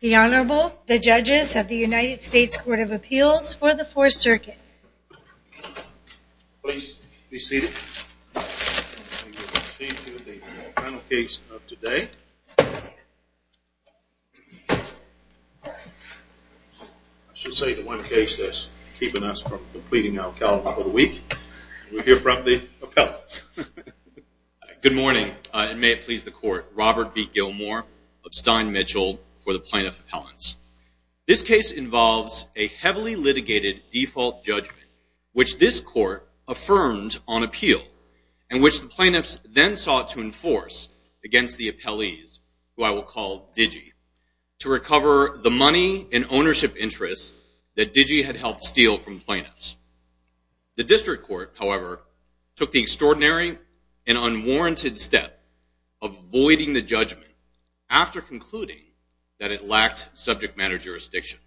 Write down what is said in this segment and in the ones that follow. The Honorable, the Judges of the United States Court of Appeals for the Fourth Circuit. Please be seated. We will proceed to the final case of today. I should say the one case that's keeping us from completing our calendar for the week. We'll hear from the appellants. Good morning, and may it please the court. Robert B. Gilmore of Stein Mitchell for the plaintiff appellants. This case involves a heavily litigated default judgment, which this court affirmed on appeal, and which the plaintiffs then sought to enforce against the appellees, who I will call DIGI, to recover the money and ownership interests that DIGI had helped steal from plaintiffs. The district court, however, took the extraordinary and unwarranted step of voiding the judgment after concluding that it lacked subject matter jurisdiction.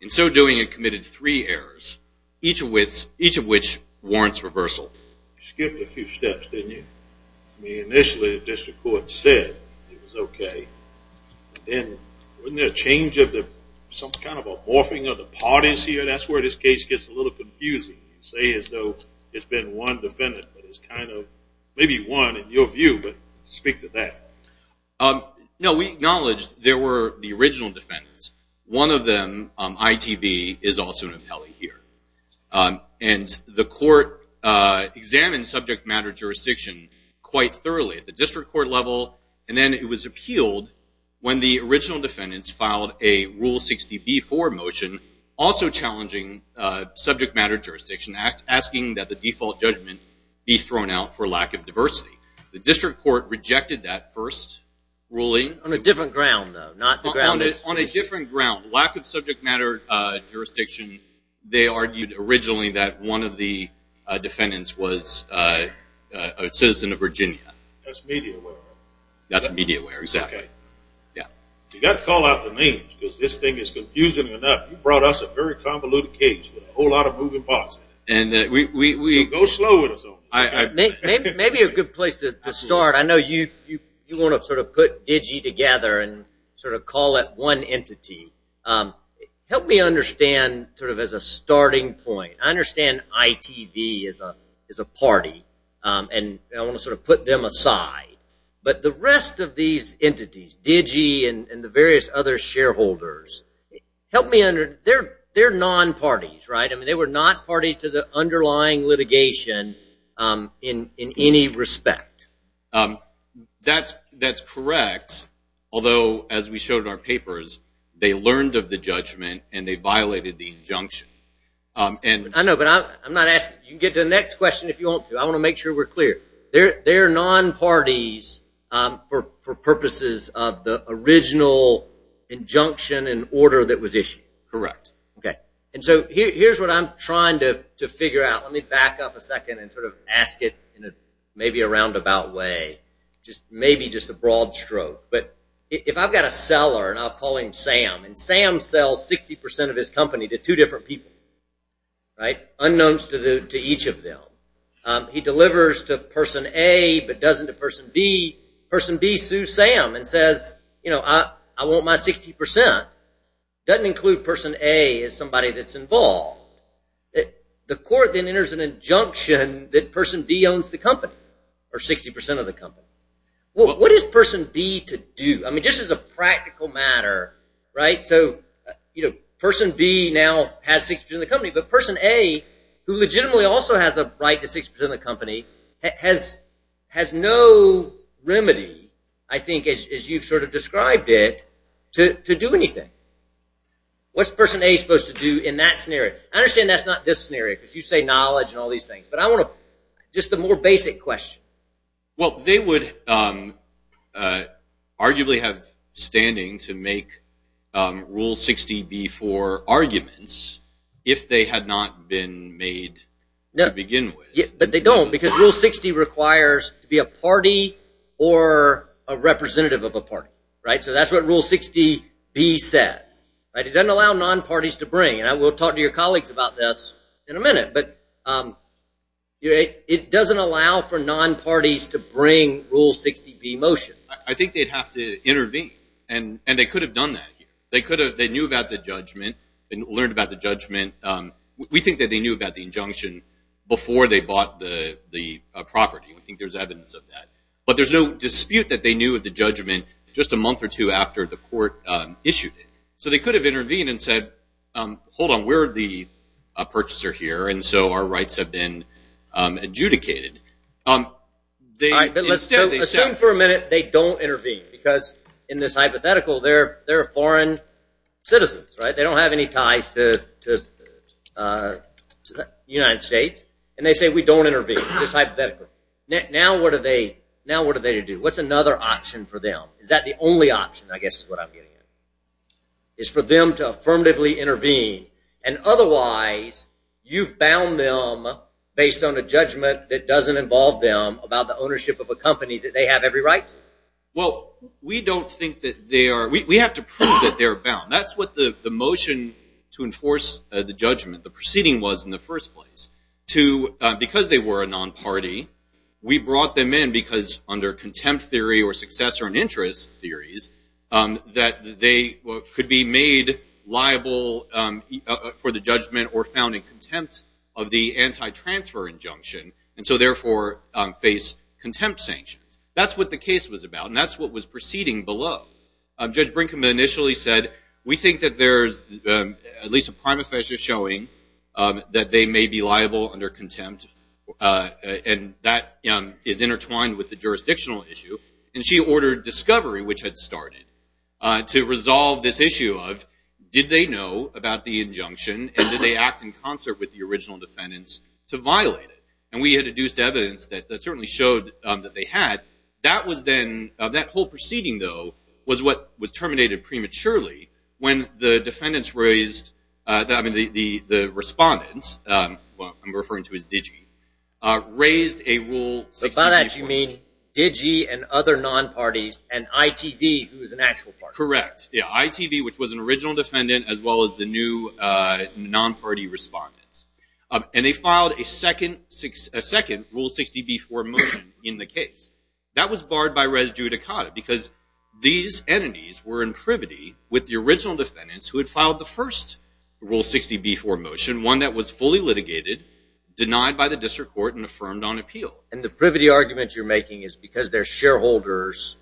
In so doing, it committed three errors, each of which warrants reversal. You skipped a few steps, didn't you? I mean, initially the district court said it was okay. Then wasn't there a change of the, some kind of a morphing of the parties here? I mean, that's where this case gets a little confusing. You say as though it's been one defendant, but it's kind of maybe one in your view, but speak to that. No, we acknowledge there were the original defendants. One of them, ITB, is also an appellee here. And the court examined subject matter jurisdiction quite thoroughly at the district court level, and then it was appealed when the original defendants filed a Rule 60b-4 motion, also challenging subject matter jurisdiction, asking that the default judgment be thrown out for lack of diversity. The district court rejected that first ruling. On a different ground, though. On a different ground. Lack of subject matter jurisdiction. They argued originally that one of the defendants was a citizen of Virginia. That's media aware. That's media aware, exactly. You've got to call out the names because this thing is confusing enough. You brought us a very convoluted case with a whole lot of moving parts. So go slow with us. Maybe a good place to start. I know you want to sort of put DIGI together and sort of call it one entity. Help me understand sort of as a starting point. I understand ITB is a party, and I want to sort of put them aside. But the rest of these entities, DIGI and the various other shareholders, help me understand. They're non-parties, right? They were not party to the underlying litigation in any respect. That's correct, although as we showed in our papers, they learned of the judgment and they violated the injunction. I know, but I'm not asking. You can get to the next question if you want to. I want to make sure we're clear. They're non-parties for purposes of the original injunction and order that was issued. Correct. Okay. And so here's what I'm trying to figure out. Let me back up a second and sort of ask it in maybe a roundabout way, just maybe just a broad stroke. But if I've got a seller, and I'll call him Sam, and Sam sells 60% of his company to two different people, right, unknowns to each of them. He delivers to person A but doesn't to person B. Person B sues Sam and says, you know, I want my 60%. Doesn't include person A as somebody that's involved. The court then enters an injunction that person B owns the company or 60% of the company. What is person B to do? I mean, just as a practical matter, right, so, you know, person B now has 60% of the company, but person A, who legitimately also has a right to 60% of the company, has no remedy, I think, as you've sort of described it, to do anything. What's person A supposed to do in that scenario? I understand that's not this scenario because you say knowledge and all these things, but I want to, just the more basic question. Well, they would arguably have standing to make Rule 60B for arguments if they had not been made to begin with. But they don't because Rule 60 requires to be a party or a representative of a party, right? So that's what Rule 60B says, right? It doesn't allow non-parties to bring, and we'll talk to your colleagues about this in a minute, but it doesn't allow for non-parties to bring Rule 60B motions. I think they'd have to intervene, and they could have done that. They knew about the judgment and learned about the judgment. We think that they knew about the injunction before they bought the property. I think there's evidence of that. But there's no dispute that they knew of the judgment just a month or two after the court issued it. So they could have intervened and said, hold on, we're the purchaser here, and so our rights have been adjudicated. All right, but let's assume for a minute they don't intervene because in this hypothetical, they're foreign citizens, right? They don't have any ties to the United States, and they say we don't intervene, just hypothetically. Now what do they do? What's another option for them? Is that the only option, I guess is what I'm getting at, is for them to affirmatively intervene, and otherwise you've bound them based on a judgment that doesn't involve them about the ownership of a company that they have every right to? Well, we don't think that they are. We have to prove that they're bound. That's what the motion to enforce the judgment, the proceeding was in the first place. Because they were a non-party, we brought them in because under contempt theory or successor and interest theories, that they could be made liable for the judgment or found in contempt of the anti-transfer injunction, and so therefore face contempt sanctions. That's what the case was about, and that's what was proceeding below. Judge Brinkman initially said, we think that there's at least a prima facie showing that they may be liable under contempt, and that is intertwined with the jurisdictional issue. And she ordered discovery, which had started, to resolve this issue of did they know about the injunction, and did they act in concert with the original defendants to violate it? And we had deduced evidence that certainly showed that they had. That was then, that whole proceeding, though, was what was terminated prematurely when the defendants raised, I mean the respondents, I'm referring to as DIGI, raised a Rule 60b4 motion. By that you mean DIGI and other non-parties and ITV, who is an actual party. Correct. Yeah, ITV, which was an original defendant, as well as the new non-party respondents. And they filed a second Rule 60b4 motion in the case. That was barred by res judicata because these entities were in privity with the original defendants who had filed the first Rule 60b4 motion, one that was fully litigated, denied by the district court, and affirmed on appeal. And the privity argument you're making is because they're shareholders,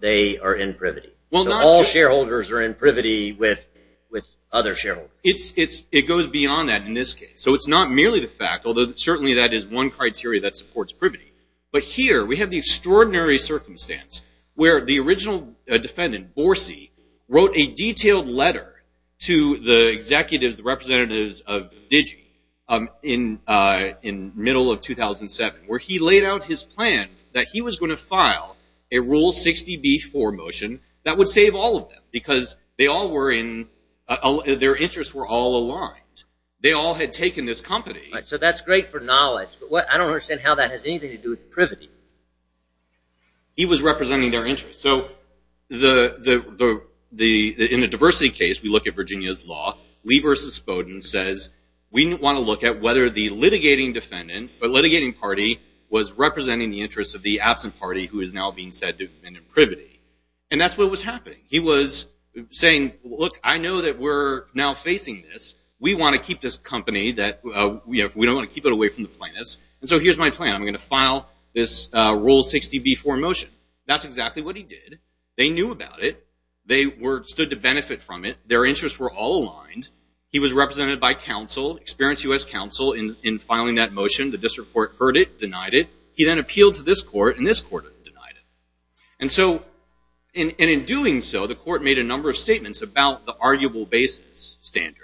they are in privity. So all shareholders are in privity with other shareholders. It goes beyond that in this case. So it's not merely the fact, although certainly that is one criteria that supports privity. But here we have the extraordinary circumstance where the original defendant, Borsi, wrote a detailed letter to the executives, the representatives of DIGI in middle of 2007, where he laid out his plan that he was going to file a Rule 60b4 motion that would save all of them because their interests were all aligned. They all had taken this company. So that's great for knowledge, but I don't understand how that has anything to do with privity. He was representing their interests. So in the diversity case, we look at Virginia's law. Lee v. Spoden says, we want to look at whether the litigating defendant, the litigating party was representing the interests of the absent party who is now being said to have been in privity. And that's what was happening. He was saying, look, I know that we're now facing this. We want to keep this company. We don't want to keep it away from the plaintiffs, and so here's my plan. I'm going to file this Rule 60b4 motion. That's exactly what he did. They knew about it. They stood to benefit from it. Their interests were all aligned. He was represented by counsel, experienced U.S. counsel, in filing that motion. The district court heard it, denied it. He then appealed to this court, and this court denied it. And so in doing so, the court made a number of statements about the arguable basis standard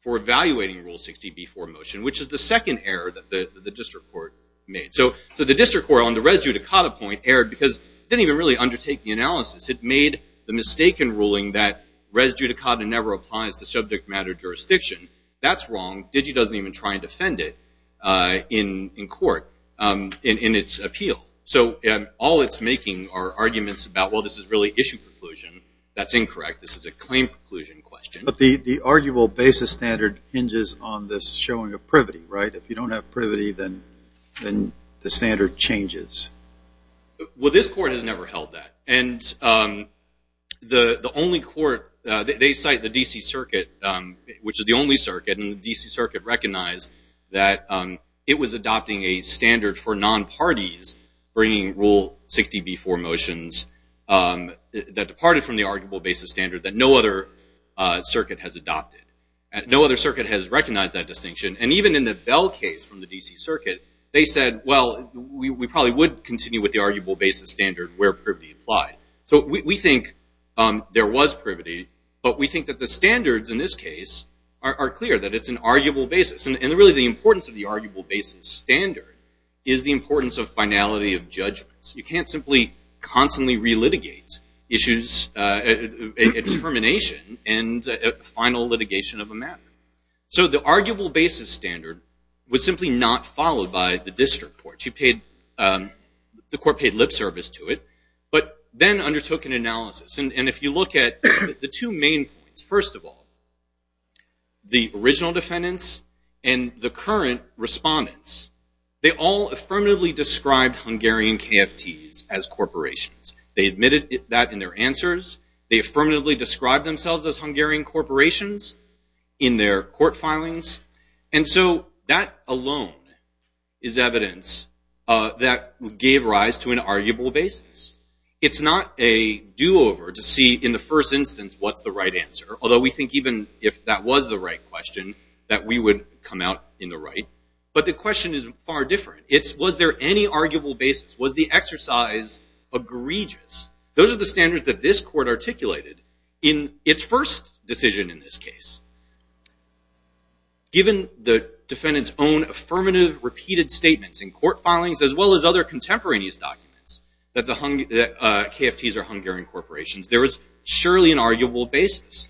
for evaluating Rule 60b4 motion, which is the second error that the district court made. So the district court on the res judicata point erred because it didn't even really undertake the analysis. It made the mistaken ruling that res judicata never applies to subject matter jurisdiction. That's wrong. Digi doesn't even try and defend it in court in its appeal. So all it's making are arguments about, well, this is really issue preclusion. That's incorrect. This is a claim preclusion question. But the arguable basis standard hinges on this showing of privity, right? If you don't have privity, then the standard changes. Well, this court has never held that. And the only court, they cite the D.C. Circuit, which is the only circuit, and the D.C. Circuit recognized that it was adopting a standard for non-parties bringing Rule 60b4 motions that departed from the arguable basis standard that no other circuit has adopted. No other circuit has recognized that distinction. And even in the Bell case from the D.C. Circuit, they said, well, we probably would continue with the arguable basis standard where privity applied. So we think there was privity, but we think that the standards in this case are clear, that it's an arguable basis. And really the importance of the arguable basis standard is the importance of finality of judgments. You can't simply constantly relitigate issues at termination and final litigation of a matter. So the arguable basis standard was simply not followed by the district court. The court paid lip service to it, but then undertook an analysis. And if you look at the two main points, first of all, the original defendants and the current respondents, they all affirmatively described Hungarian KFTs as corporations. They admitted that in their answers. They affirmatively described themselves as Hungarian corporations in their court filings. And so that alone is evidence that gave rise to an arguable basis. It's not a do-over to see in the first instance what's the right answer, although we think even if that was the right question that we would come out in the right. But the question is far different. It's was there any arguable basis? Was the exercise egregious? Those are the standards that this court articulated in its first decision in this case. Given the defendant's own affirmative repeated statements in court filings, as well as other contemporaneous documents that the KFTs are Hungarian corporations, there is surely an arguable basis.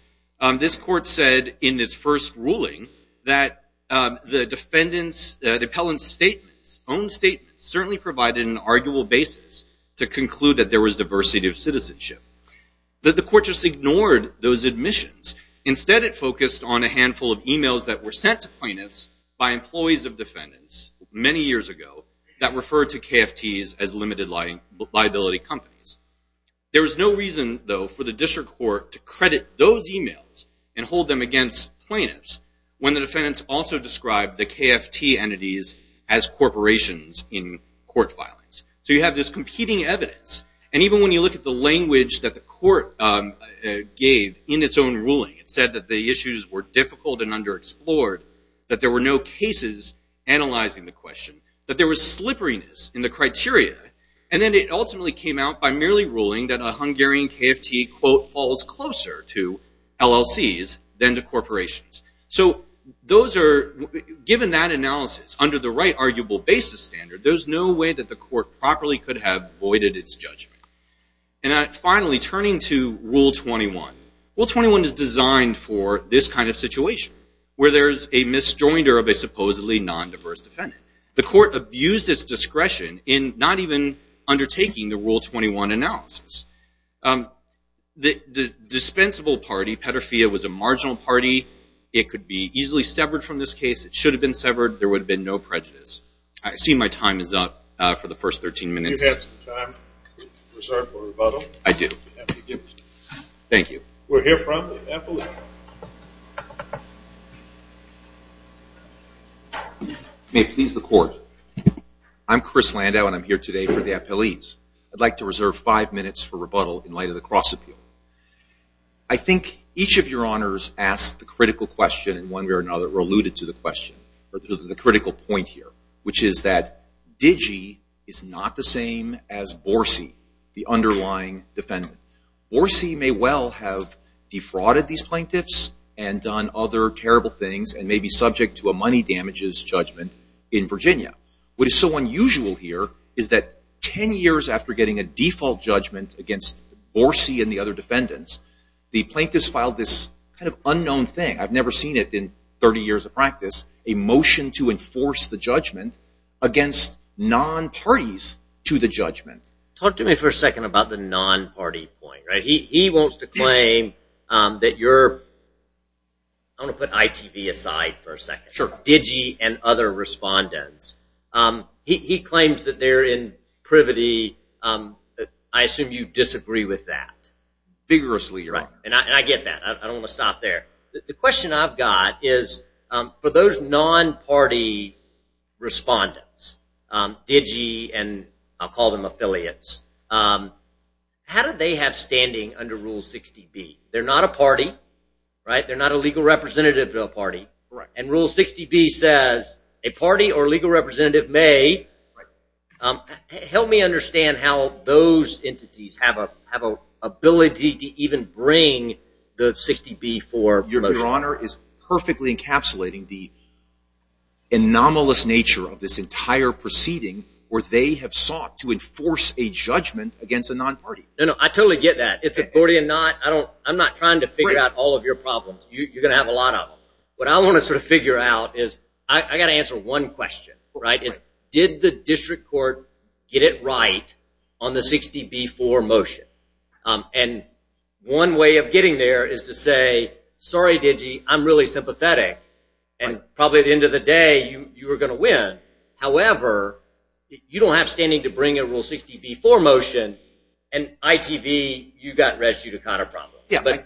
This court said in its first ruling that the defendant's, the appellant's statements, certainly provided an arguable basis to conclude that there was diversity of citizenship. But the court just ignored those admissions. Instead, it focused on a handful of e-mails that were sent to plaintiffs by employees of defendants many years ago that referred to KFTs as limited liability companies. There was no reason, though, for the district court to credit those e-mails and hold them against plaintiffs when the defendants also described the KFT entities as corporations in court filings. So you have this competing evidence. And even when you look at the language that the court gave in its own ruling, it said that the issues were difficult and underexplored, that there were no cases analyzing the question, that there was slipperiness in the criteria. And then it ultimately came out by merely ruling that a Hungarian KFT, quote, to LLCs than to corporations. So those are, given that analysis, under the right arguable basis standard, there's no way that the court properly could have voided its judgment. And finally, turning to Rule 21, Rule 21 is designed for this kind of situation, where there's a misjoinder of a supposedly non-diverse defendant. The court abused its discretion in not even undertaking the Rule 21 analysis. The dispensable party, Petrofia, was a marginal party. It could be easily severed from this case. It should have been severed. There would have been no prejudice. I see my time is up for the first 13 minutes. Do you have some time reserved for rebuttal? I do. Thank you. We'll hear from the appellee. May it please the court. I'm Chris Landau, and I'm here today for the appellees. I'd like to reserve five minutes for rebuttal in light of the cross appeal. I think each of your honors asked the critical question, and one way or another alluded to the question, or to the critical point here, which is that Digi is not the same as Borsi, the underlying defendant. Borsi may well have defrauded these plaintiffs and done other terrible things and may be subject to a money damages judgment in Virginia. What is so unusual here is that 10 years after getting a default judgment against Borsi and the other defendants, the plaintiffs filed this kind of unknown thing. I've never seen it in 30 years of practice, a motion to enforce the judgment against non-parties to the judgment. Talk to me for a second about the non-party point. He wants to claim that you're – I'm going to put ITV aside for a second. Sure. About Digi and other respondents. He claims that they're in privity. I assume you disagree with that. Vigorously, your honor. Right, and I get that. I don't want to stop there. The question I've got is for those non-party respondents, Digi and I'll call them affiliates, how do they have standing under Rule 60B? They're not a legal representative of a party. Right. And Rule 60B says a party or legal representative may. Right. Help me understand how those entities have an ability to even bring the 60B for motion. Your honor is perfectly encapsulating the anomalous nature of this entire proceeding where they have sought to enforce a judgment against a non-party. No, no, I totally get that. It's a Borsi and not – I'm not trying to figure out all of your problems. You're going to have a lot of them. What I want to sort of figure out is I've got to answer one question, right, is did the district court get it right on the 60B for motion? And one way of getting there is to say, sorry, Digi, I'm really sympathetic, and probably at the end of the day you were going to win. However, you don't have standing to bring a Rule 60B for motion, and ITV, you've got res judicata problems.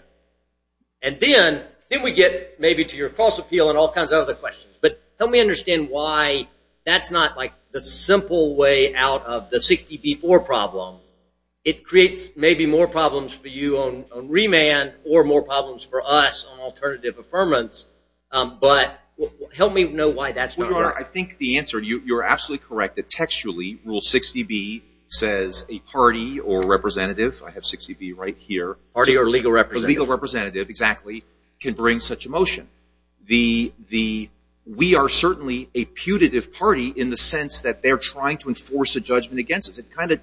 And then we get maybe to your cross appeal and all kinds of other questions. But help me understand why that's not like the simple way out of the 60B for problem. It creates maybe more problems for you on remand or more problems for us on alternative affirmance. But help me know why that's not right. Well, your honor, I think the answer, you're absolutely correct that textually Rule 60B says a party or representative, I have 60B right here. A party or legal representative. A legal representative, exactly, can bring such a motion. We are certainly a putative party in the sense that they're trying to enforce a judgment against us.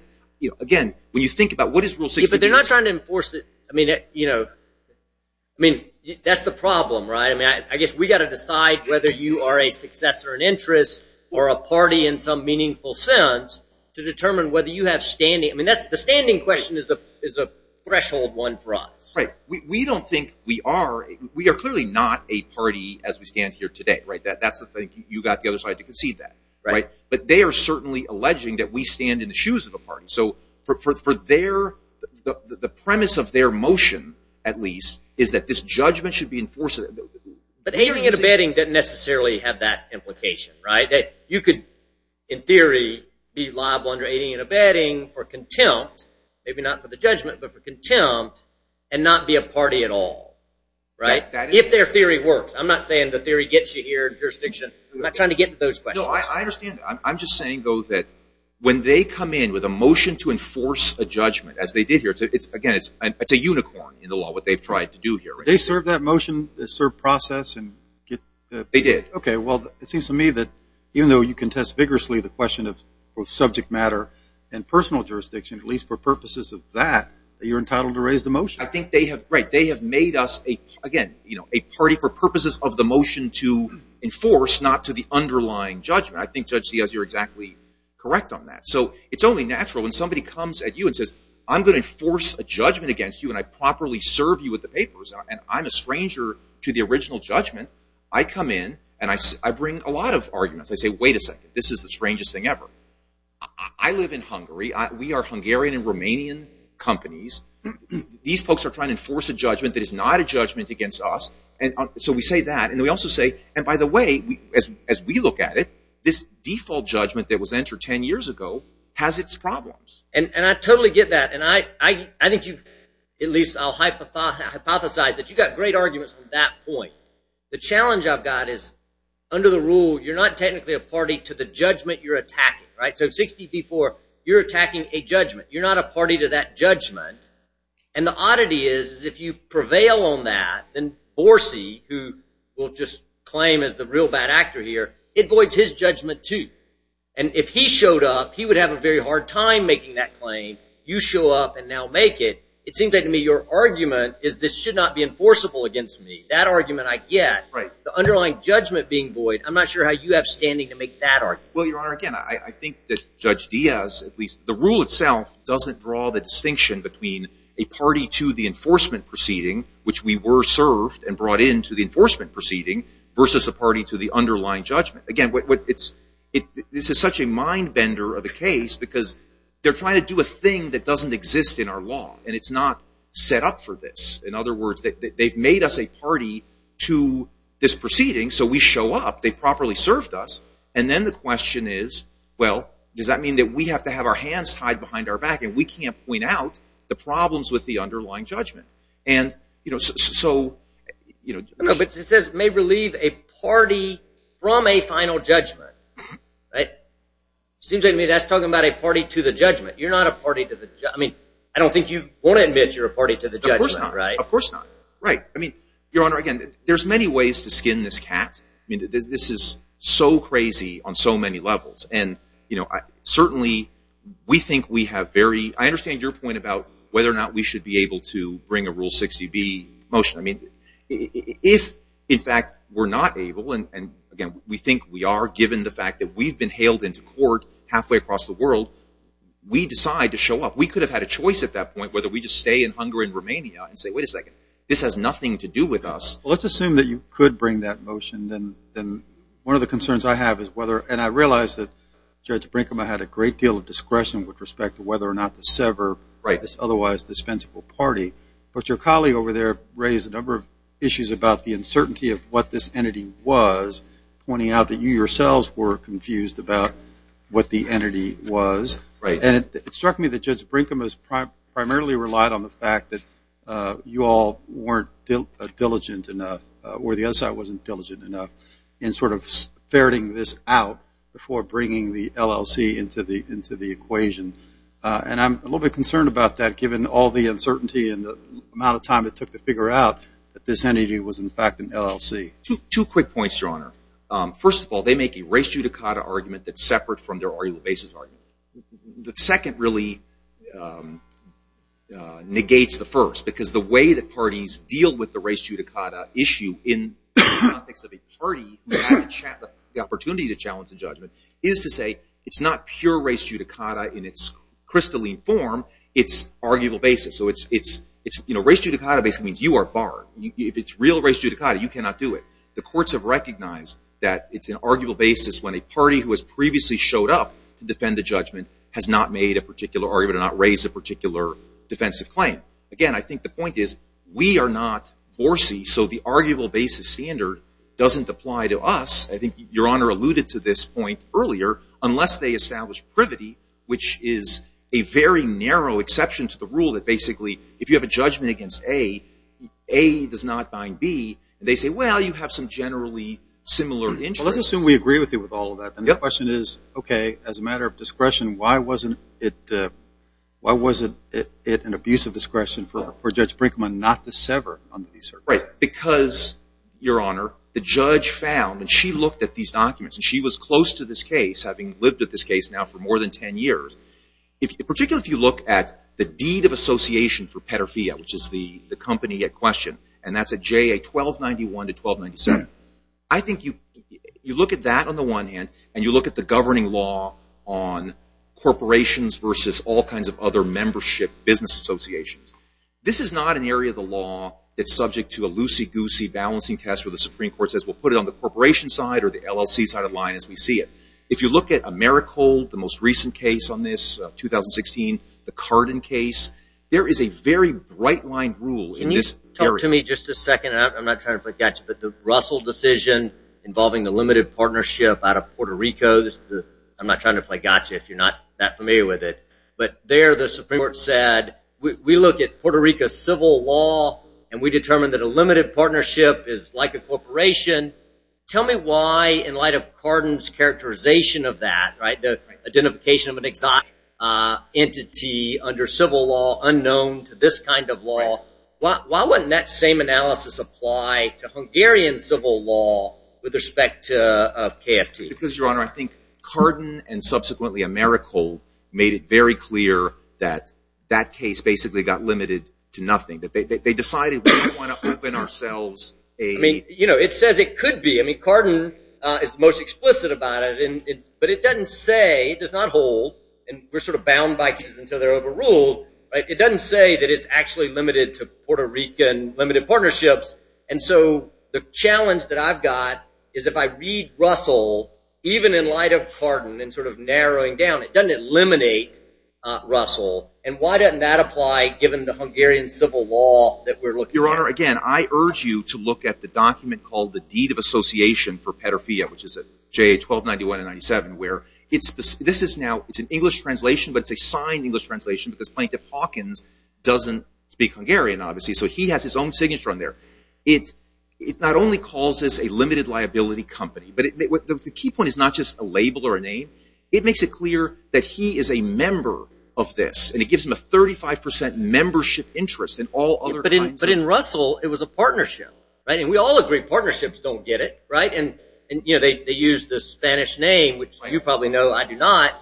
Again, when you think about what is Rule 60B? But they're not trying to enforce it. I mean, that's the problem, right? I mean, I guess we've got to decide whether you are a successor in interest or a party in some meaningful sense to determine whether you have standing. I mean, the standing question is a threshold one for us. Right. We don't think we are. We are clearly not a party as we stand here today, right? That's the thing. You've got the other side to concede that, right? But they are certainly alleging that we stand in the shoes of the party. So for their premise of their motion, at least, is that this judgment should be enforced. But aiding and abetting doesn't necessarily have that implication, right? That you could, in theory, be liable under aiding and abetting for contempt, maybe not for the judgment, but for contempt, and not be a party at all, right? If their theory works. I'm not saying the theory gets you here in jurisdiction. I'm not trying to get to those questions. No, I understand that. I'm just saying, though, that when they come in with a motion to enforce a judgment, as they did here, again, it's a unicorn in the law, what they've tried to do here. Did they serve that motion, serve process? They did. Okay, well, it seems to me that even though you contest vigorously the question of subject matter and personal jurisdiction, at least for purposes of that, you're entitled to raise the motion. I think they have made us, again, a party for purposes of the motion to enforce, not to the underlying judgment. I think Judge Diaz, you're exactly correct on that. So it's only natural when somebody comes at you and says, I'm going to enforce a judgment against you and I properly serve you with the papers, and I'm a stranger to the original judgment. I come in and I bring a lot of arguments. I say, wait a second. This is the strangest thing ever. I live in Hungary. We are Hungarian and Romanian companies. These folks are trying to enforce a judgment that is not a judgment against us. So we say that. And we also say, and by the way, as we look at it, this default judgment that was entered 10 years ago has its problems. And I totally get that. And I think you've, at least I'll hypothesize that you've got great arguments on that point. The challenge I've got is, under the rule, you're not technically a party to the judgment you're attacking. So 60B4, you're attacking a judgment. You're not a party to that judgment. And the oddity is, is if you prevail on that, then Borsi, who we'll just claim is the real bad actor here, it voids his judgment too. And if he showed up, he would have a very hard time making that claim. You show up and now make it. It seems like to me your argument is this should not be enforceable against me. That argument I get. The underlying judgment being void, I'm not sure how you have standing to make that argument. Well, Your Honor, again, I think that Judge Diaz, at least the rule itself, doesn't draw the distinction between a party to the enforcement proceeding, which we were served and brought into the enforcement proceeding, versus a party to the underlying judgment. Again, this is such a mind-bender of a case because they're trying to do a thing that doesn't exist in our law, and it's not set up for this. In other words, they've made us a party to this proceeding, so we show up. They properly served us. And then the question is, well, does that mean that we have to have our hands tied behind our back and we can't point out the problems with the underlying judgment? But it says may relieve a party from a final judgment, right? It seems to me that's talking about a party to the judgment. You're not a party to the judgment. I mean, I don't think you want to admit you're a party to the judgment, right? Of course not. Right. I mean, Your Honor, again, there's many ways to skin this cat. I mean, this is so crazy on so many levels. And, you know, certainly we think we have very – I understand your point about whether or not we should be able to bring a Rule 60B motion. I mean, if, in fact, we're not able, and, again, we think we are given the fact that we've been hailed into court halfway across the world, we decide to show up. We could have had a choice at that point, whether we just stay in Hungary and Romania and say, wait a second, this has nothing to do with us. Well, let's assume that you could bring that motion. One of the concerns I have is whether – and I realize that Judge Brinkman had a great deal of discretion with respect to whether or not to sever this otherwise dispensable party. But your colleague over there raised a number of issues about the uncertainty of what this entity was, pointing out that you yourselves were confused about what the entity was. And it struck me that Judge Brinkman primarily relied on the fact that you all weren't diligent enough or the other side wasn't diligent enough in sort of ferreting this out before bringing the LLC into the equation. And I'm a little bit concerned about that, given all the uncertainty and the amount of time it took to figure out that this entity was, in fact, an LLC. Two quick points, Your Honor. First of all, they make a res judicata argument that's separate from their oral basis argument. The second really negates the first, because the way that parties deal with the res judicata issue in the context of a party who has the opportunity to challenge the judgment is to say it's not pure res judicata in its crystalline form, it's arguable basis. So res judicata basically means you are barred. If it's real res judicata, you cannot do it. The courts have recognized that it's an arguable basis when a party who has previously showed up to defend the judgment has not made a particular argument or not raised a particular defensive claim. Again, I think the point is we are not BORC, so the arguable basis standard doesn't apply to us. I think Your Honor alluded to this point earlier, unless they establish privity, which is a very narrow exception to the rule that basically if you have a judgment against A, A does not bind B, and they say, well, you have some generally similar interests. Well, let's assume we agree with you with all of that. The question is, okay, as a matter of discretion, why wasn't it an abuse of discretion for Judge Brinkman not to sever under these circumstances? Right, because, Your Honor, the judge found, and she looked at these documents, and she was close to this case, having lived with this case now for more than 10 years. Particularly if you look at the deed of association for Peterfia, which is the company at question, and that's at J.A. 1291 to 1297. I think you look at that on the one hand, and you look at the governing law on corporations versus all kinds of other membership business associations. This is not an area of the law that's subject to a loosey-goosey balancing test where the Supreme Court says we'll put it on the corporation side or the LLC side of the line as we see it. If you look at Americold, the most recent case on this, 2016, the Cardin case, there is a very bright-lined rule in this area. Can you talk to me just a second, and I'm not trying to play gotcha, but the Russell decision involving the limited partnership out of Puerto Rico, I'm not trying to play gotcha if you're not that familiar with it, but there the Supreme Court said we look at Puerto Rico's civil law, and we determine that a limited partnership is like a corporation. Tell me why, in light of Cardin's characterization of that, right, the identification of an exotic entity under civil law unknown to this kind of law, why wouldn't that same analysis apply to Hungarian civil law with respect to KFT? Because, Your Honor, I think Cardin and subsequently Americold made it very clear that that case basically got limited to nothing, that they decided we didn't want to open ourselves. I mean, you know, it says it could be. I mean, Cardin is the most explicit about it, but it doesn't say, it does not hold, and we're sort of bound by cases until they're overruled, right? It doesn't say that it's actually limited to Puerto Rican limited partnerships, and so the challenge that I've got is if I read Russell, even in light of Cardin and sort of narrowing down, it doesn't eliminate Russell, and why doesn't that apply given the Hungarian civil law that we're looking at? Your Honor, again, I urge you to look at the document called the Deed of Association for Petrofea, which is at JA 1291 and 97, where this is now, it's an English translation, but it's a signed English translation because Plaintiff Hawkins doesn't speak Hungarian, obviously, so he has his own signature on there. It not only calls this a limited liability company, but the key point is not just a label or a name. It makes it clear that he is a member of this, and it gives him a 35 percent membership interest in all other kinds of— But in Russell, it was a partnership, right? And we all agree partnerships don't get it, right? And, you know, they use the Spanish name, which you probably know I do not,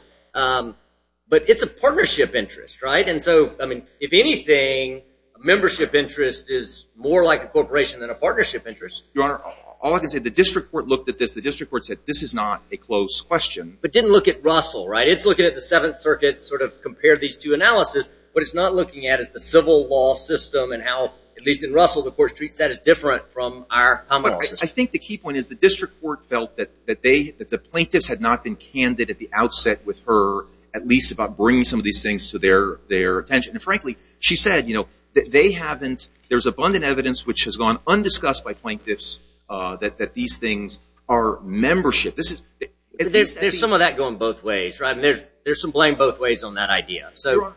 but it's a partnership interest, right? And so, I mean, if anything, a membership interest is more like a corporation than a partnership interest. Your Honor, all I can say, the district court looked at this. The district court said this is not a closed question. But didn't look at Russell, right? It's looking at the Seventh Circuit, sort of compared these two analyses. What it's not looking at is the civil law system and how, at least in Russell, the court treats that as different from our common law system. I think the key point is the district court felt that the plaintiffs had not been candid at the outset with her, at least about bringing some of these things to their attention. And, frankly, she said, you know, that they haven't— there's abundant evidence which has gone undiscussed by plaintiffs that these things are membership. There's some of that going both ways, right? And there's some blame both ways on that idea. Your Honor—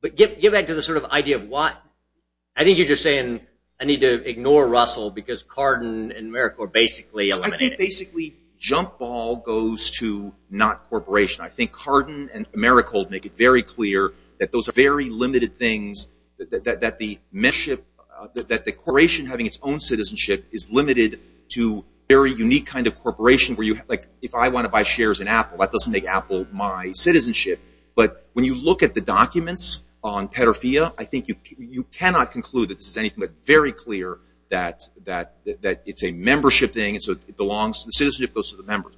But get back to the sort of idea of why— I think you're just saying I need to ignore Russell because Cardin and Mericold basically eliminated— I think basically jump ball goes to not corporation. I think Cardin and Mericold make it very clear that those are very limited things, that the membership—that the corporation having its own citizenship is limited to very unique kind of corporation where you have, like, if I want to buy shares in Apple, that doesn't make Apple my citizenship. But when you look at the documents on pedophilia, I think you cannot conclude that this is anything but very clear that it's a membership thing and so it belongs—the citizenship goes to the members.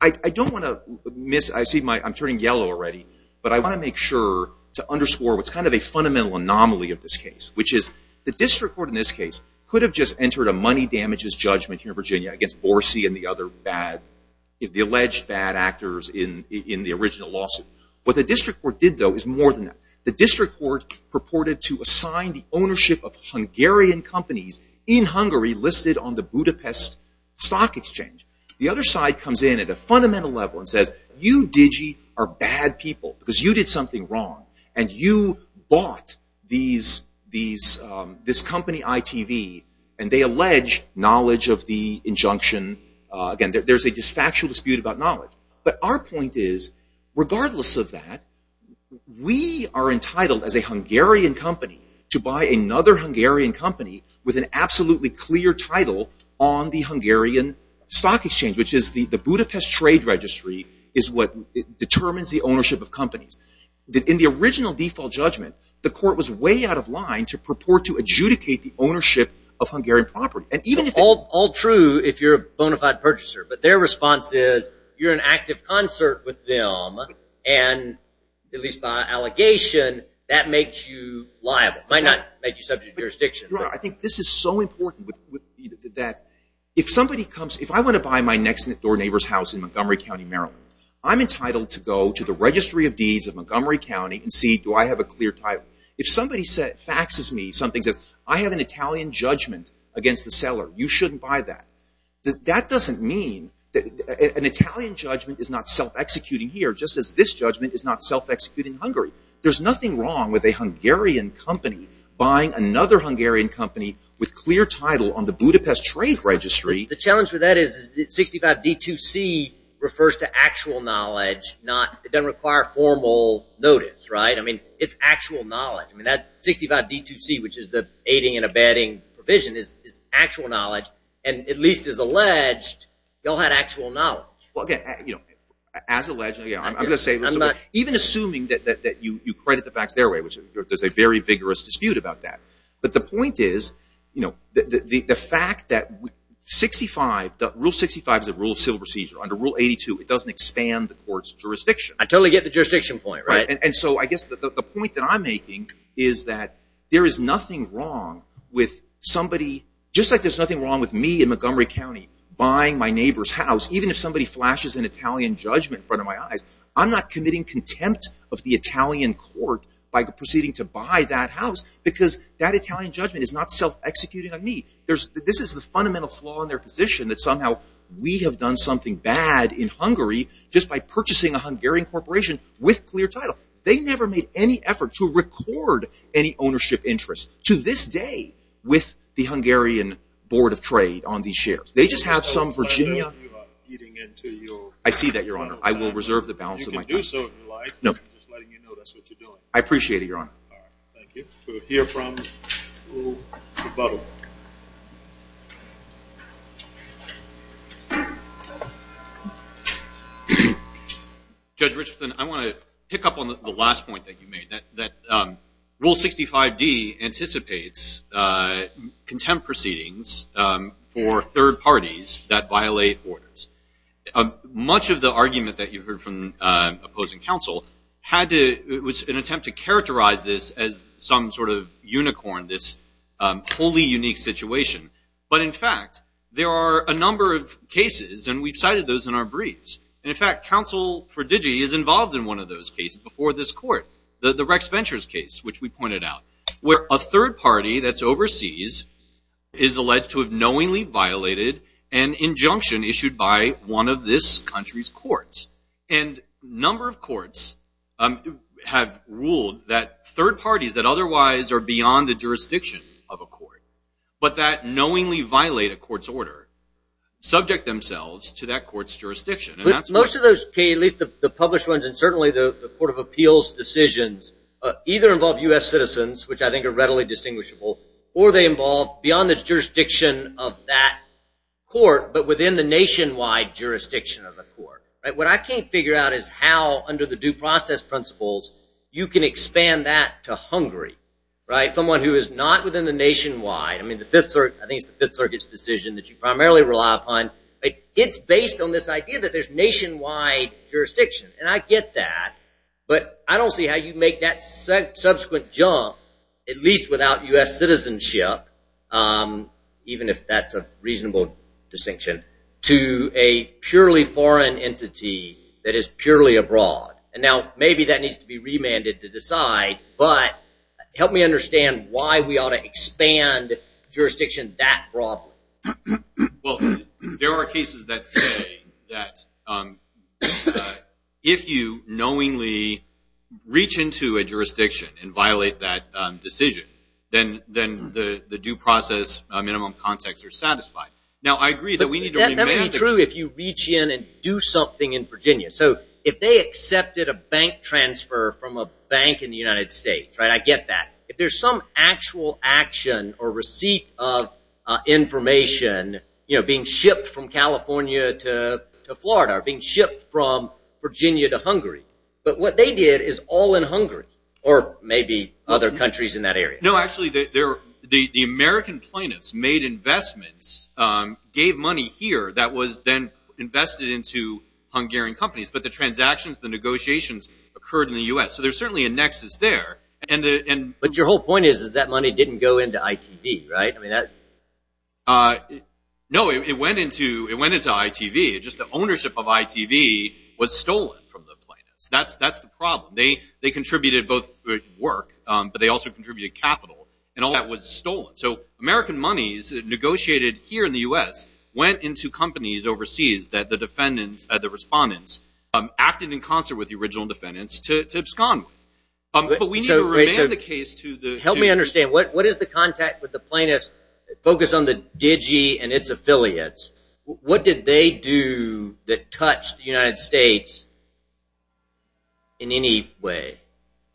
I don't want to miss—I see my—I'm turning yellow already, but I want to make sure to underscore what's kind of a fundamental anomaly of this case, which is the district court in this case could have just entered a money damages judgment here in Virginia against Borsi and the other bad—the alleged bad actors in the original lawsuit. What the district court did, though, is more than that. The district court purported to assign the ownership of Hungarian companies in Hungary listed on the Budapest Stock Exchange. The other side comes in at a fundamental level and says, you digi are bad people because you did something wrong and you bought this company, ITV, and they allege knowledge of the injunction. Again, there's a factual dispute about knowledge. But our point is, regardless of that, we are entitled as a Hungarian company to buy another Hungarian company with an absolutely clear title on the Hungarian Stock Exchange, which is the Budapest Trade Registry is what determines the ownership of companies. In the original default judgment, the court was way out of line to purport to adjudicate the ownership of Hungarian property. All true if you're a bona fide purchaser, but their response is you're in active concert with them, and at least by allegation, that makes you liable. It might not make you subject to jurisdiction. I think this is so important that if somebody comes— if I want to buy my next-door neighbor's house in Montgomery County, Maryland, I'm entitled to go to the registry of deeds of Montgomery County and see do I have a clear title. If somebody faxes me, something says, I have an Italian judgment against the seller. You shouldn't buy that. That doesn't mean—an Italian judgment is not self-executing here, just as this judgment is not self-executing in Hungary. There's nothing wrong with a Hungarian company buying another Hungarian company with clear title on the Budapest Trade Registry. The challenge with that is 65D2C refers to actual knowledge. It doesn't require formal notice. It's actual knowledge. 65D2C, which is the aiding and abetting provision, is actual knowledge, and at least as alleged, you all had actual knowledge. As alleged, I'm going to say this. Even assuming that you credit the facts their way, which there's a very vigorous dispute about that, but the point is the fact that 65— Rule 65 is a rule of civil procedure. Under Rule 82, it doesn't expand the court's jurisdiction. I totally get the jurisdiction point, right. And so I guess the point that I'm making is that there is nothing wrong with somebody— just like there's nothing wrong with me in Montgomery County buying my neighbor's house, even if somebody flashes an Italian judgment in front of my eyes, I'm not committing contempt of the Italian court by proceeding to buy that house because that Italian judgment is not self-executing on me. This is the fundamental flaw in their position, that somehow we have done something bad in Hungary just by purchasing a Hungarian corporation with clear title. They never made any effort to record any ownership interest, to this day, with the Hungarian Board of Trade on these shares. They just have some Virginia— You are getting into your— I see that, Your Honor. I will reserve the balance of my time. You can do so if you like. I'm just letting you know that's what you're doing. I appreciate it, Your Honor. All right. Thank you. Any questions to hear from to rebuttal? Judge Richardson, I want to pick up on the last point that you made, that Rule 65d anticipates contempt proceedings for third parties that violate orders. Much of the argument that you heard from opposing counsel had to— this wholly unique situation. But, in fact, there are a number of cases, and we've cited those in our briefs. And, in fact, counsel for Digi is involved in one of those cases before this court, the Rex Ventures case, which we pointed out, where a third party that's overseas is alleged to have knowingly violated an injunction issued by one of this country's courts. And a number of courts have ruled that third parties that otherwise are beyond the jurisdiction of a court, but that knowingly violate a court's order, subject themselves to that court's jurisdiction. Most of those cases, at least the published ones, and certainly the Court of Appeals decisions, either involve U.S. citizens, which I think are readily distinguishable, or they involve beyond the jurisdiction of that court, but within the nationwide jurisdiction of the court. What I can't figure out is how, under the due process principles, you can expand that to Hungary, someone who is not within the nationwide. I think it's the Fifth Circuit's decision that you primarily rely upon. It's based on this idea that there's nationwide jurisdiction. And I get that, but I don't see how you make that subsequent jump, at least without U.S. citizenship, even if that's a reasonable distinction, to a purely foreign entity that is purely abroad. And now maybe that needs to be remanded to decide, but help me understand why we ought to expand jurisdiction that broadly. Well, there are cases that say that if you knowingly reach into a jurisdiction and violate that decision, then the due process minimum context is satisfied. Now, I agree that we need to remand it. That would be true if you reach in and do something in Virginia. So if they accepted a bank transfer from a bank in the United States, I get that. If there's some actual action or receipt of information being shipped from California to Florida or being shipped from Virginia to Hungary, but what they did is all in Hungary or maybe other countries in that area. No, actually, the American plaintiffs made investments, gave money here that was then invested into Hungarian companies. But the transactions, the negotiations occurred in the U.S. So there's certainly a nexus there. But your whole point is that money didn't go into ITV, right? No, it went into ITV. Just the ownership of ITV was stolen from the plaintiffs. That's the problem. They contributed both work, but they also contributed capital, and all that was stolen. So American monies negotiated here in the U.S. went into companies overseas that the defendants, the respondents, acted in concert with the original defendants to abscond with. But we need to remand the case to the plaintiffs. Help me understand. What is the contact with the plaintiffs? Focus on the DIGI and its affiliates. What did they do that touched the United States in any way?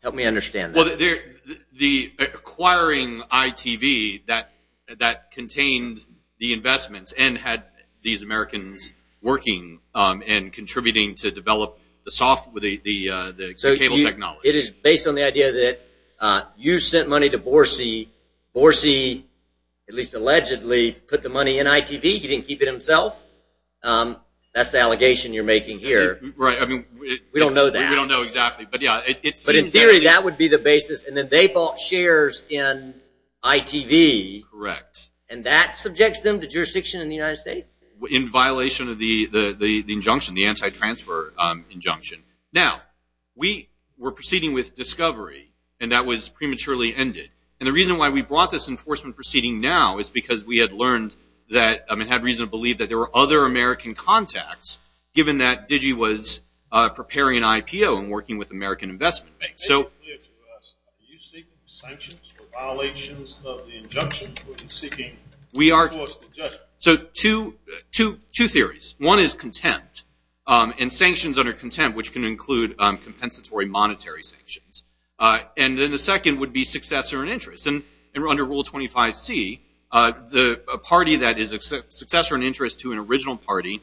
Help me understand that. Well, the acquiring ITV that contained the investments and had these Americans working and contributing to develop the cable technology. So it is based on the idea that you sent money to Borsi. Borsi, at least allegedly, put the money in ITV. He didn't keep it himself. That's the allegation you're making here. Right. We don't know that. We don't know exactly. But in theory, that would be the basis. And then they bought shares in ITV. Correct. And that subjects them to jurisdiction in the United States? In violation of the injunction, the anti-transfer injunction. Now, we were proceeding with discovery, and that was prematurely ended. And the reason why we brought this enforcement proceeding now is because we had learned that and had reason to believe that there were other American contacts, given that DIGI was preparing an IPO and working with American investment banks. Make it clear to us, do you seek sanctions for violations of the injunction, or are you seeking forced injunction? So two theories. One is contempt. And sanctions under contempt, which can include compensatory monetary sanctions. And then the second would be successor in interest. And under Rule 25C, a party that is a successor in interest to an original party,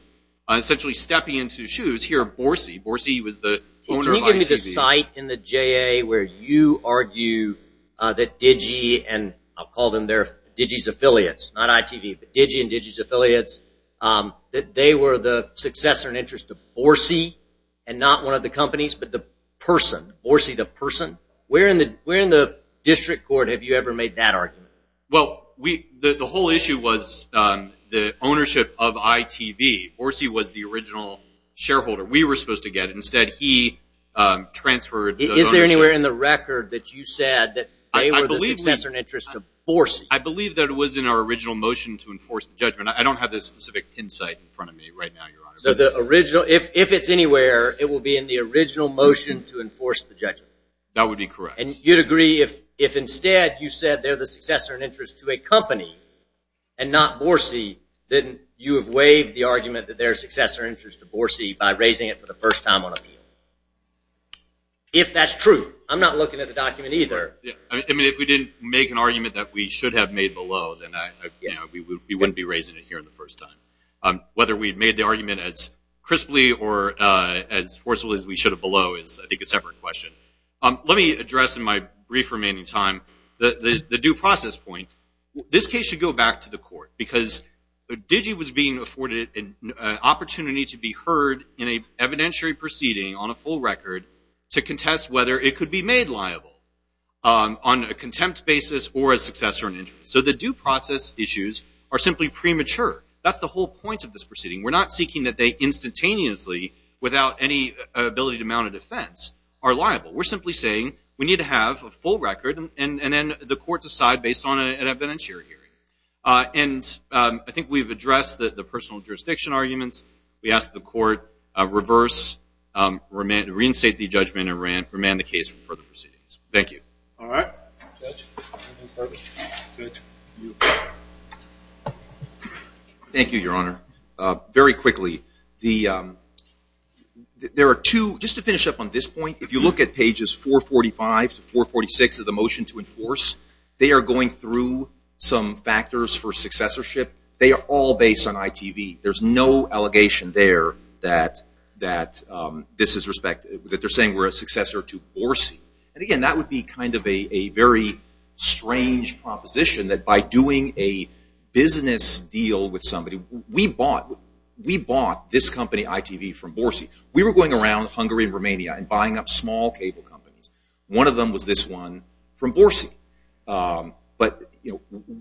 essentially stepping into shoes here of BORCI. BORCI was the owner of ITV. Can you give me the site in the JA where you argue that DIGI, and I'll call them DIGI's affiliates, not ITV, but DIGI and DIGI's affiliates, that they were the successor in interest to BORCI and not one of the companies, but the person, BORCI the person? Where in the district court have you ever made that argument? Well, the whole issue was the ownership of ITV. BORCI was the original shareholder. We were supposed to get it. Instead, he transferred the ownership. Is there anywhere in the record that you said that they were the successor in interest to BORCI? I believe that it was in our original motion to enforce the judgment. I don't have that specific insight in front of me right now, Your Honor. So if it's anywhere, it will be in the original motion to enforce the judgment? That would be correct. And you'd agree if instead you said they're the successor in interest to a company and not BORCI, then you have waived the argument that they're a successor in interest to BORCI by raising it for the first time on appeal? If that's true. I'm not looking at the document either. I mean, if we didn't make an argument that we should have made below, then we wouldn't be raising it here the first time. Whether we had made the argument as crisply or as forcibly as we should have below is, I think, a separate question. Let me address in my brief remaining time the due process point. This case should go back to the court, because DIGI was being afforded an opportunity to be heard in an evidentiary proceeding on a full record to contest whether it could be made liable on a contempt basis or a successor in interest. So the due process issues are simply premature. That's the whole point of this proceeding. We're not seeking that they instantaneously, without any ability to mount a defense, are liable. We're simply saying we need to have a full record, and then the court decide based on an evidentiary hearing. And I think we've addressed the personal jurisdiction arguments. We asked the court reverse, reinstate the judgment, and remand the case for further proceedings. Thank you. All right. Thank you, Your Honor. Very quickly, just to finish up on this point, if you look at pages 445 to 446 of the motion to enforce, they are going through some factors for successorship. They are all based on ITV. There's no allegation there that they're saying we're a successor to Borsi. And again, that would be kind of a very strange proposition that by doing a business deal with somebody, we bought this company, ITV, from Borsi. We were going around Hungary and Romania and buying up small cable companies. One of them was this one from Borsi. But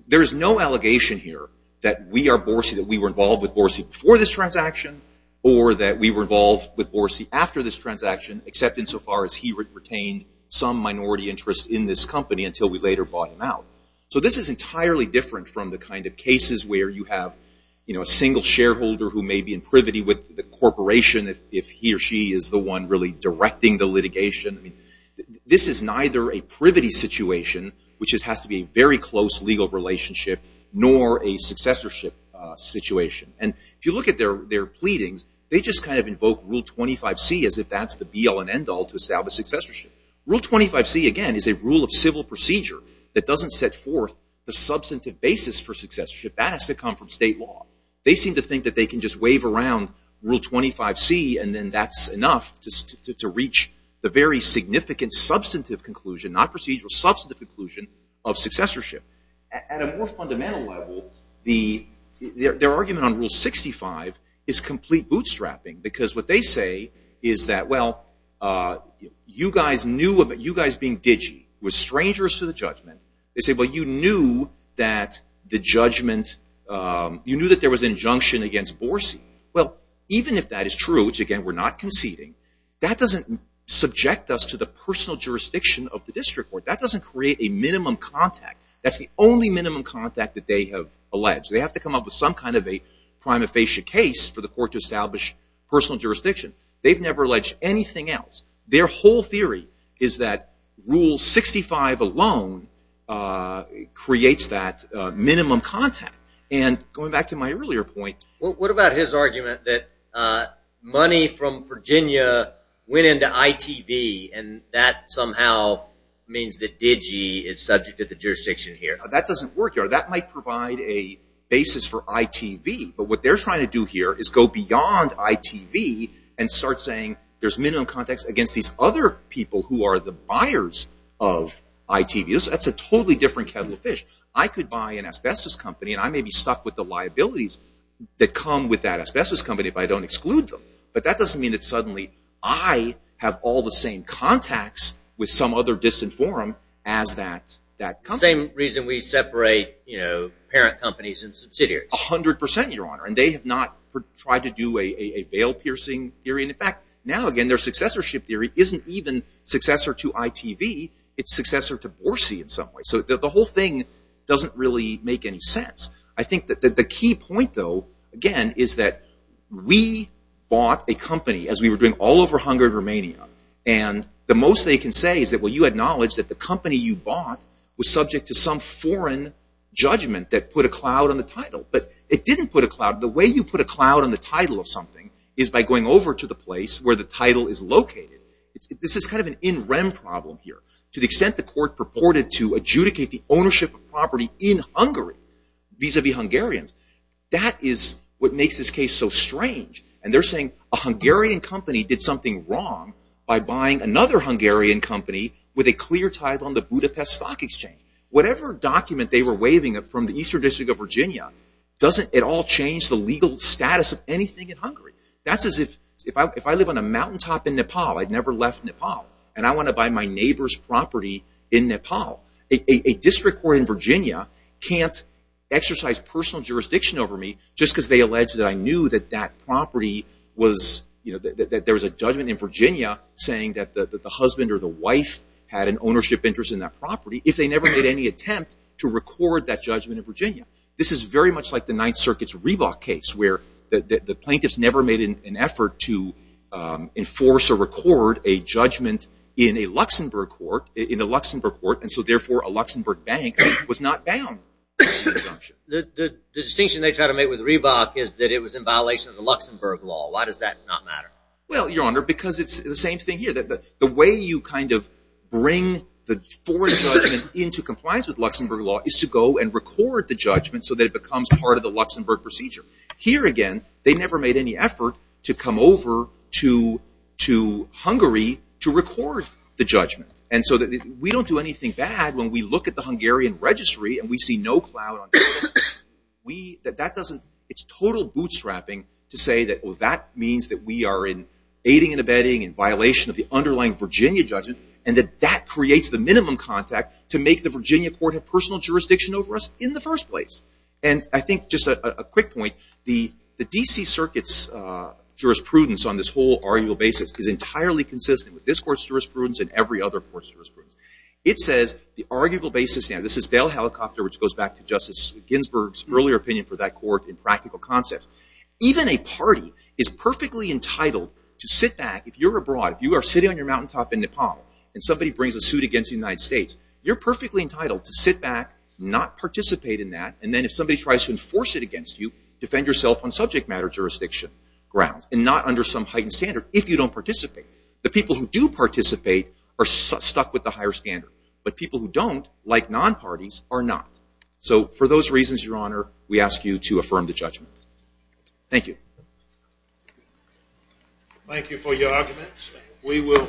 there is no allegation here that we are Borsi, that we were involved with Borsi before this transaction, or that we were involved with Borsi after this transaction, except insofar as he retained some minority interest in this company until we later bought him out. So this is entirely different from the kind of cases where you have, you know, a single shareholder who may be in privity with the corporation, if he or she is the one really directing the litigation. This is neither a privity situation, which has to be a very close legal relationship, nor a successorship situation. And if you look at their pleadings, they just kind of invoke Rule 25C as if that's the be-all and end-all to establish successorship. Rule 25C, again, is a rule of civil procedure that doesn't set forth a substantive basis for successorship. That has to come from state law. They seem to think that they can just wave around Rule 25C, and then that's enough to reach the very significant substantive conclusion, not procedural, substantive conclusion of successorship. At a more fundamental level, their argument on Rule 65 is complete bootstrapping, because what they say is that, well, you guys being digi was strangers to the judgment. They say, well, you knew that there was an injunction against Borsi. Well, even if that is true, which again, we're not conceding, that doesn't subject us to the personal jurisdiction of the district court. That doesn't create a minimum contact. That's the only minimum contact that they have alleged. They have to come up with some kind of a prima facie case for the court to establish personal jurisdiction. They've never alleged anything else. Their whole theory is that Rule 65 alone creates that minimum contact. And going back to my earlier point. What about his argument that money from Virginia went into ITV, and that somehow means that digi is subject to the jurisdiction here? That doesn't work. That might provide a basis for ITV. But what they're trying to do here is go beyond ITV and start saying there's minimum contacts against these other people who are the buyers of ITV. That's a totally different kettle of fish. I could buy an asbestos company, and I may be stuck with the liabilities that come with that asbestos company if I don't exclude them. But that doesn't mean that suddenly I have all the same contacts with some other disinformed as that company. Same reason we separate parent companies and subsidiaries. A hundred percent, Your Honor. And they have not tried to do a veil-piercing theory. In fact, now again, their successorship theory isn't even successor to ITV. It's successor to BORCI in some way. So the whole thing doesn't really make any sense. I think that the key point, though, again, is that we bought a company, as we were doing all over Hungary and Romania, and the most they can say is that, well, you acknowledge that the company you bought was subject to some foreign judgment that put a cloud on the title. But it didn't put a cloud. The way you put a cloud on the title of something is by going over to the place where the title is located. This is kind of an in-rem problem here. To the extent the court purported to adjudicate the ownership of property in Hungary, vis-a-vis Hungarians, that is what makes this case so strange. And they're saying a Hungarian company did something wrong by buying another Hungarian company with a clear title on the Budapest Stock Exchange. Whatever document they were waiving from the Eastern District of Virginia doesn't at all change the legal status of anything in Hungary. That's as if I live on a mountaintop in Nepal. I've never left Nepal. And I want to buy my neighbor's property in Nepal. A district court in Virginia can't exercise personal jurisdiction over me just because they allege that I knew that that property was, that there was a judgment in Virginia saying that the husband or the wife had an ownership interest in that property if they never made any attempt to record that judgment in Virginia. This is very much like the Ninth Circuit's Reebok case where the plaintiffs never made an effort to enforce or record a judgment in a Luxembourg court. And so, therefore, a Luxembourg bank was not bound. The distinction they try to make with Reebok is that it was in violation of the Luxembourg law. Why does that not matter? Well, Your Honor, because it's the same thing here. The way you kind of bring the foreign judgment into compliance with Luxembourg law is to go and record the judgment so that it becomes part of the Luxembourg procedure. Here, again, they never made any effort to come over to Hungary to record the judgment. And so we don't do anything bad when we look at the Hungarian registry and we see no clout on that. That doesn't, it's total bootstrapping to say that, well, that means that we are in aiding and abetting in violation of the underlying Virginia judgment and that that creates the minimum contact to make the Virginia court have personal jurisdiction over us in the first place. And I think just a quick point, the D.C. Circuit's jurisprudence on this whole arguable basis is entirely consistent with this court's jurisprudence and every other court's jurisprudence. It says the arguable basis, and this is Bell Helicopter, which goes back to Justice Ginsburg's earlier opinion for that court in practical concepts. Even a party is perfectly entitled to sit back, if you're abroad, if you are sitting on your mountaintop in Nepal and somebody brings a suit against the United States, you're perfectly entitled to sit back, not participate in that, and then if somebody tries to enforce it against you, defend yourself on subject matter jurisdiction grounds and not under some heightened standard if you don't participate. The people who do participate are stuck with the higher standard, but people who don't, like non-parties, are not. So for those reasons, Your Honor, we ask you to affirm the judgment. Thank you. Thank you for your arguments. We will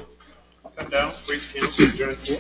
come down and bring Ken to the jury.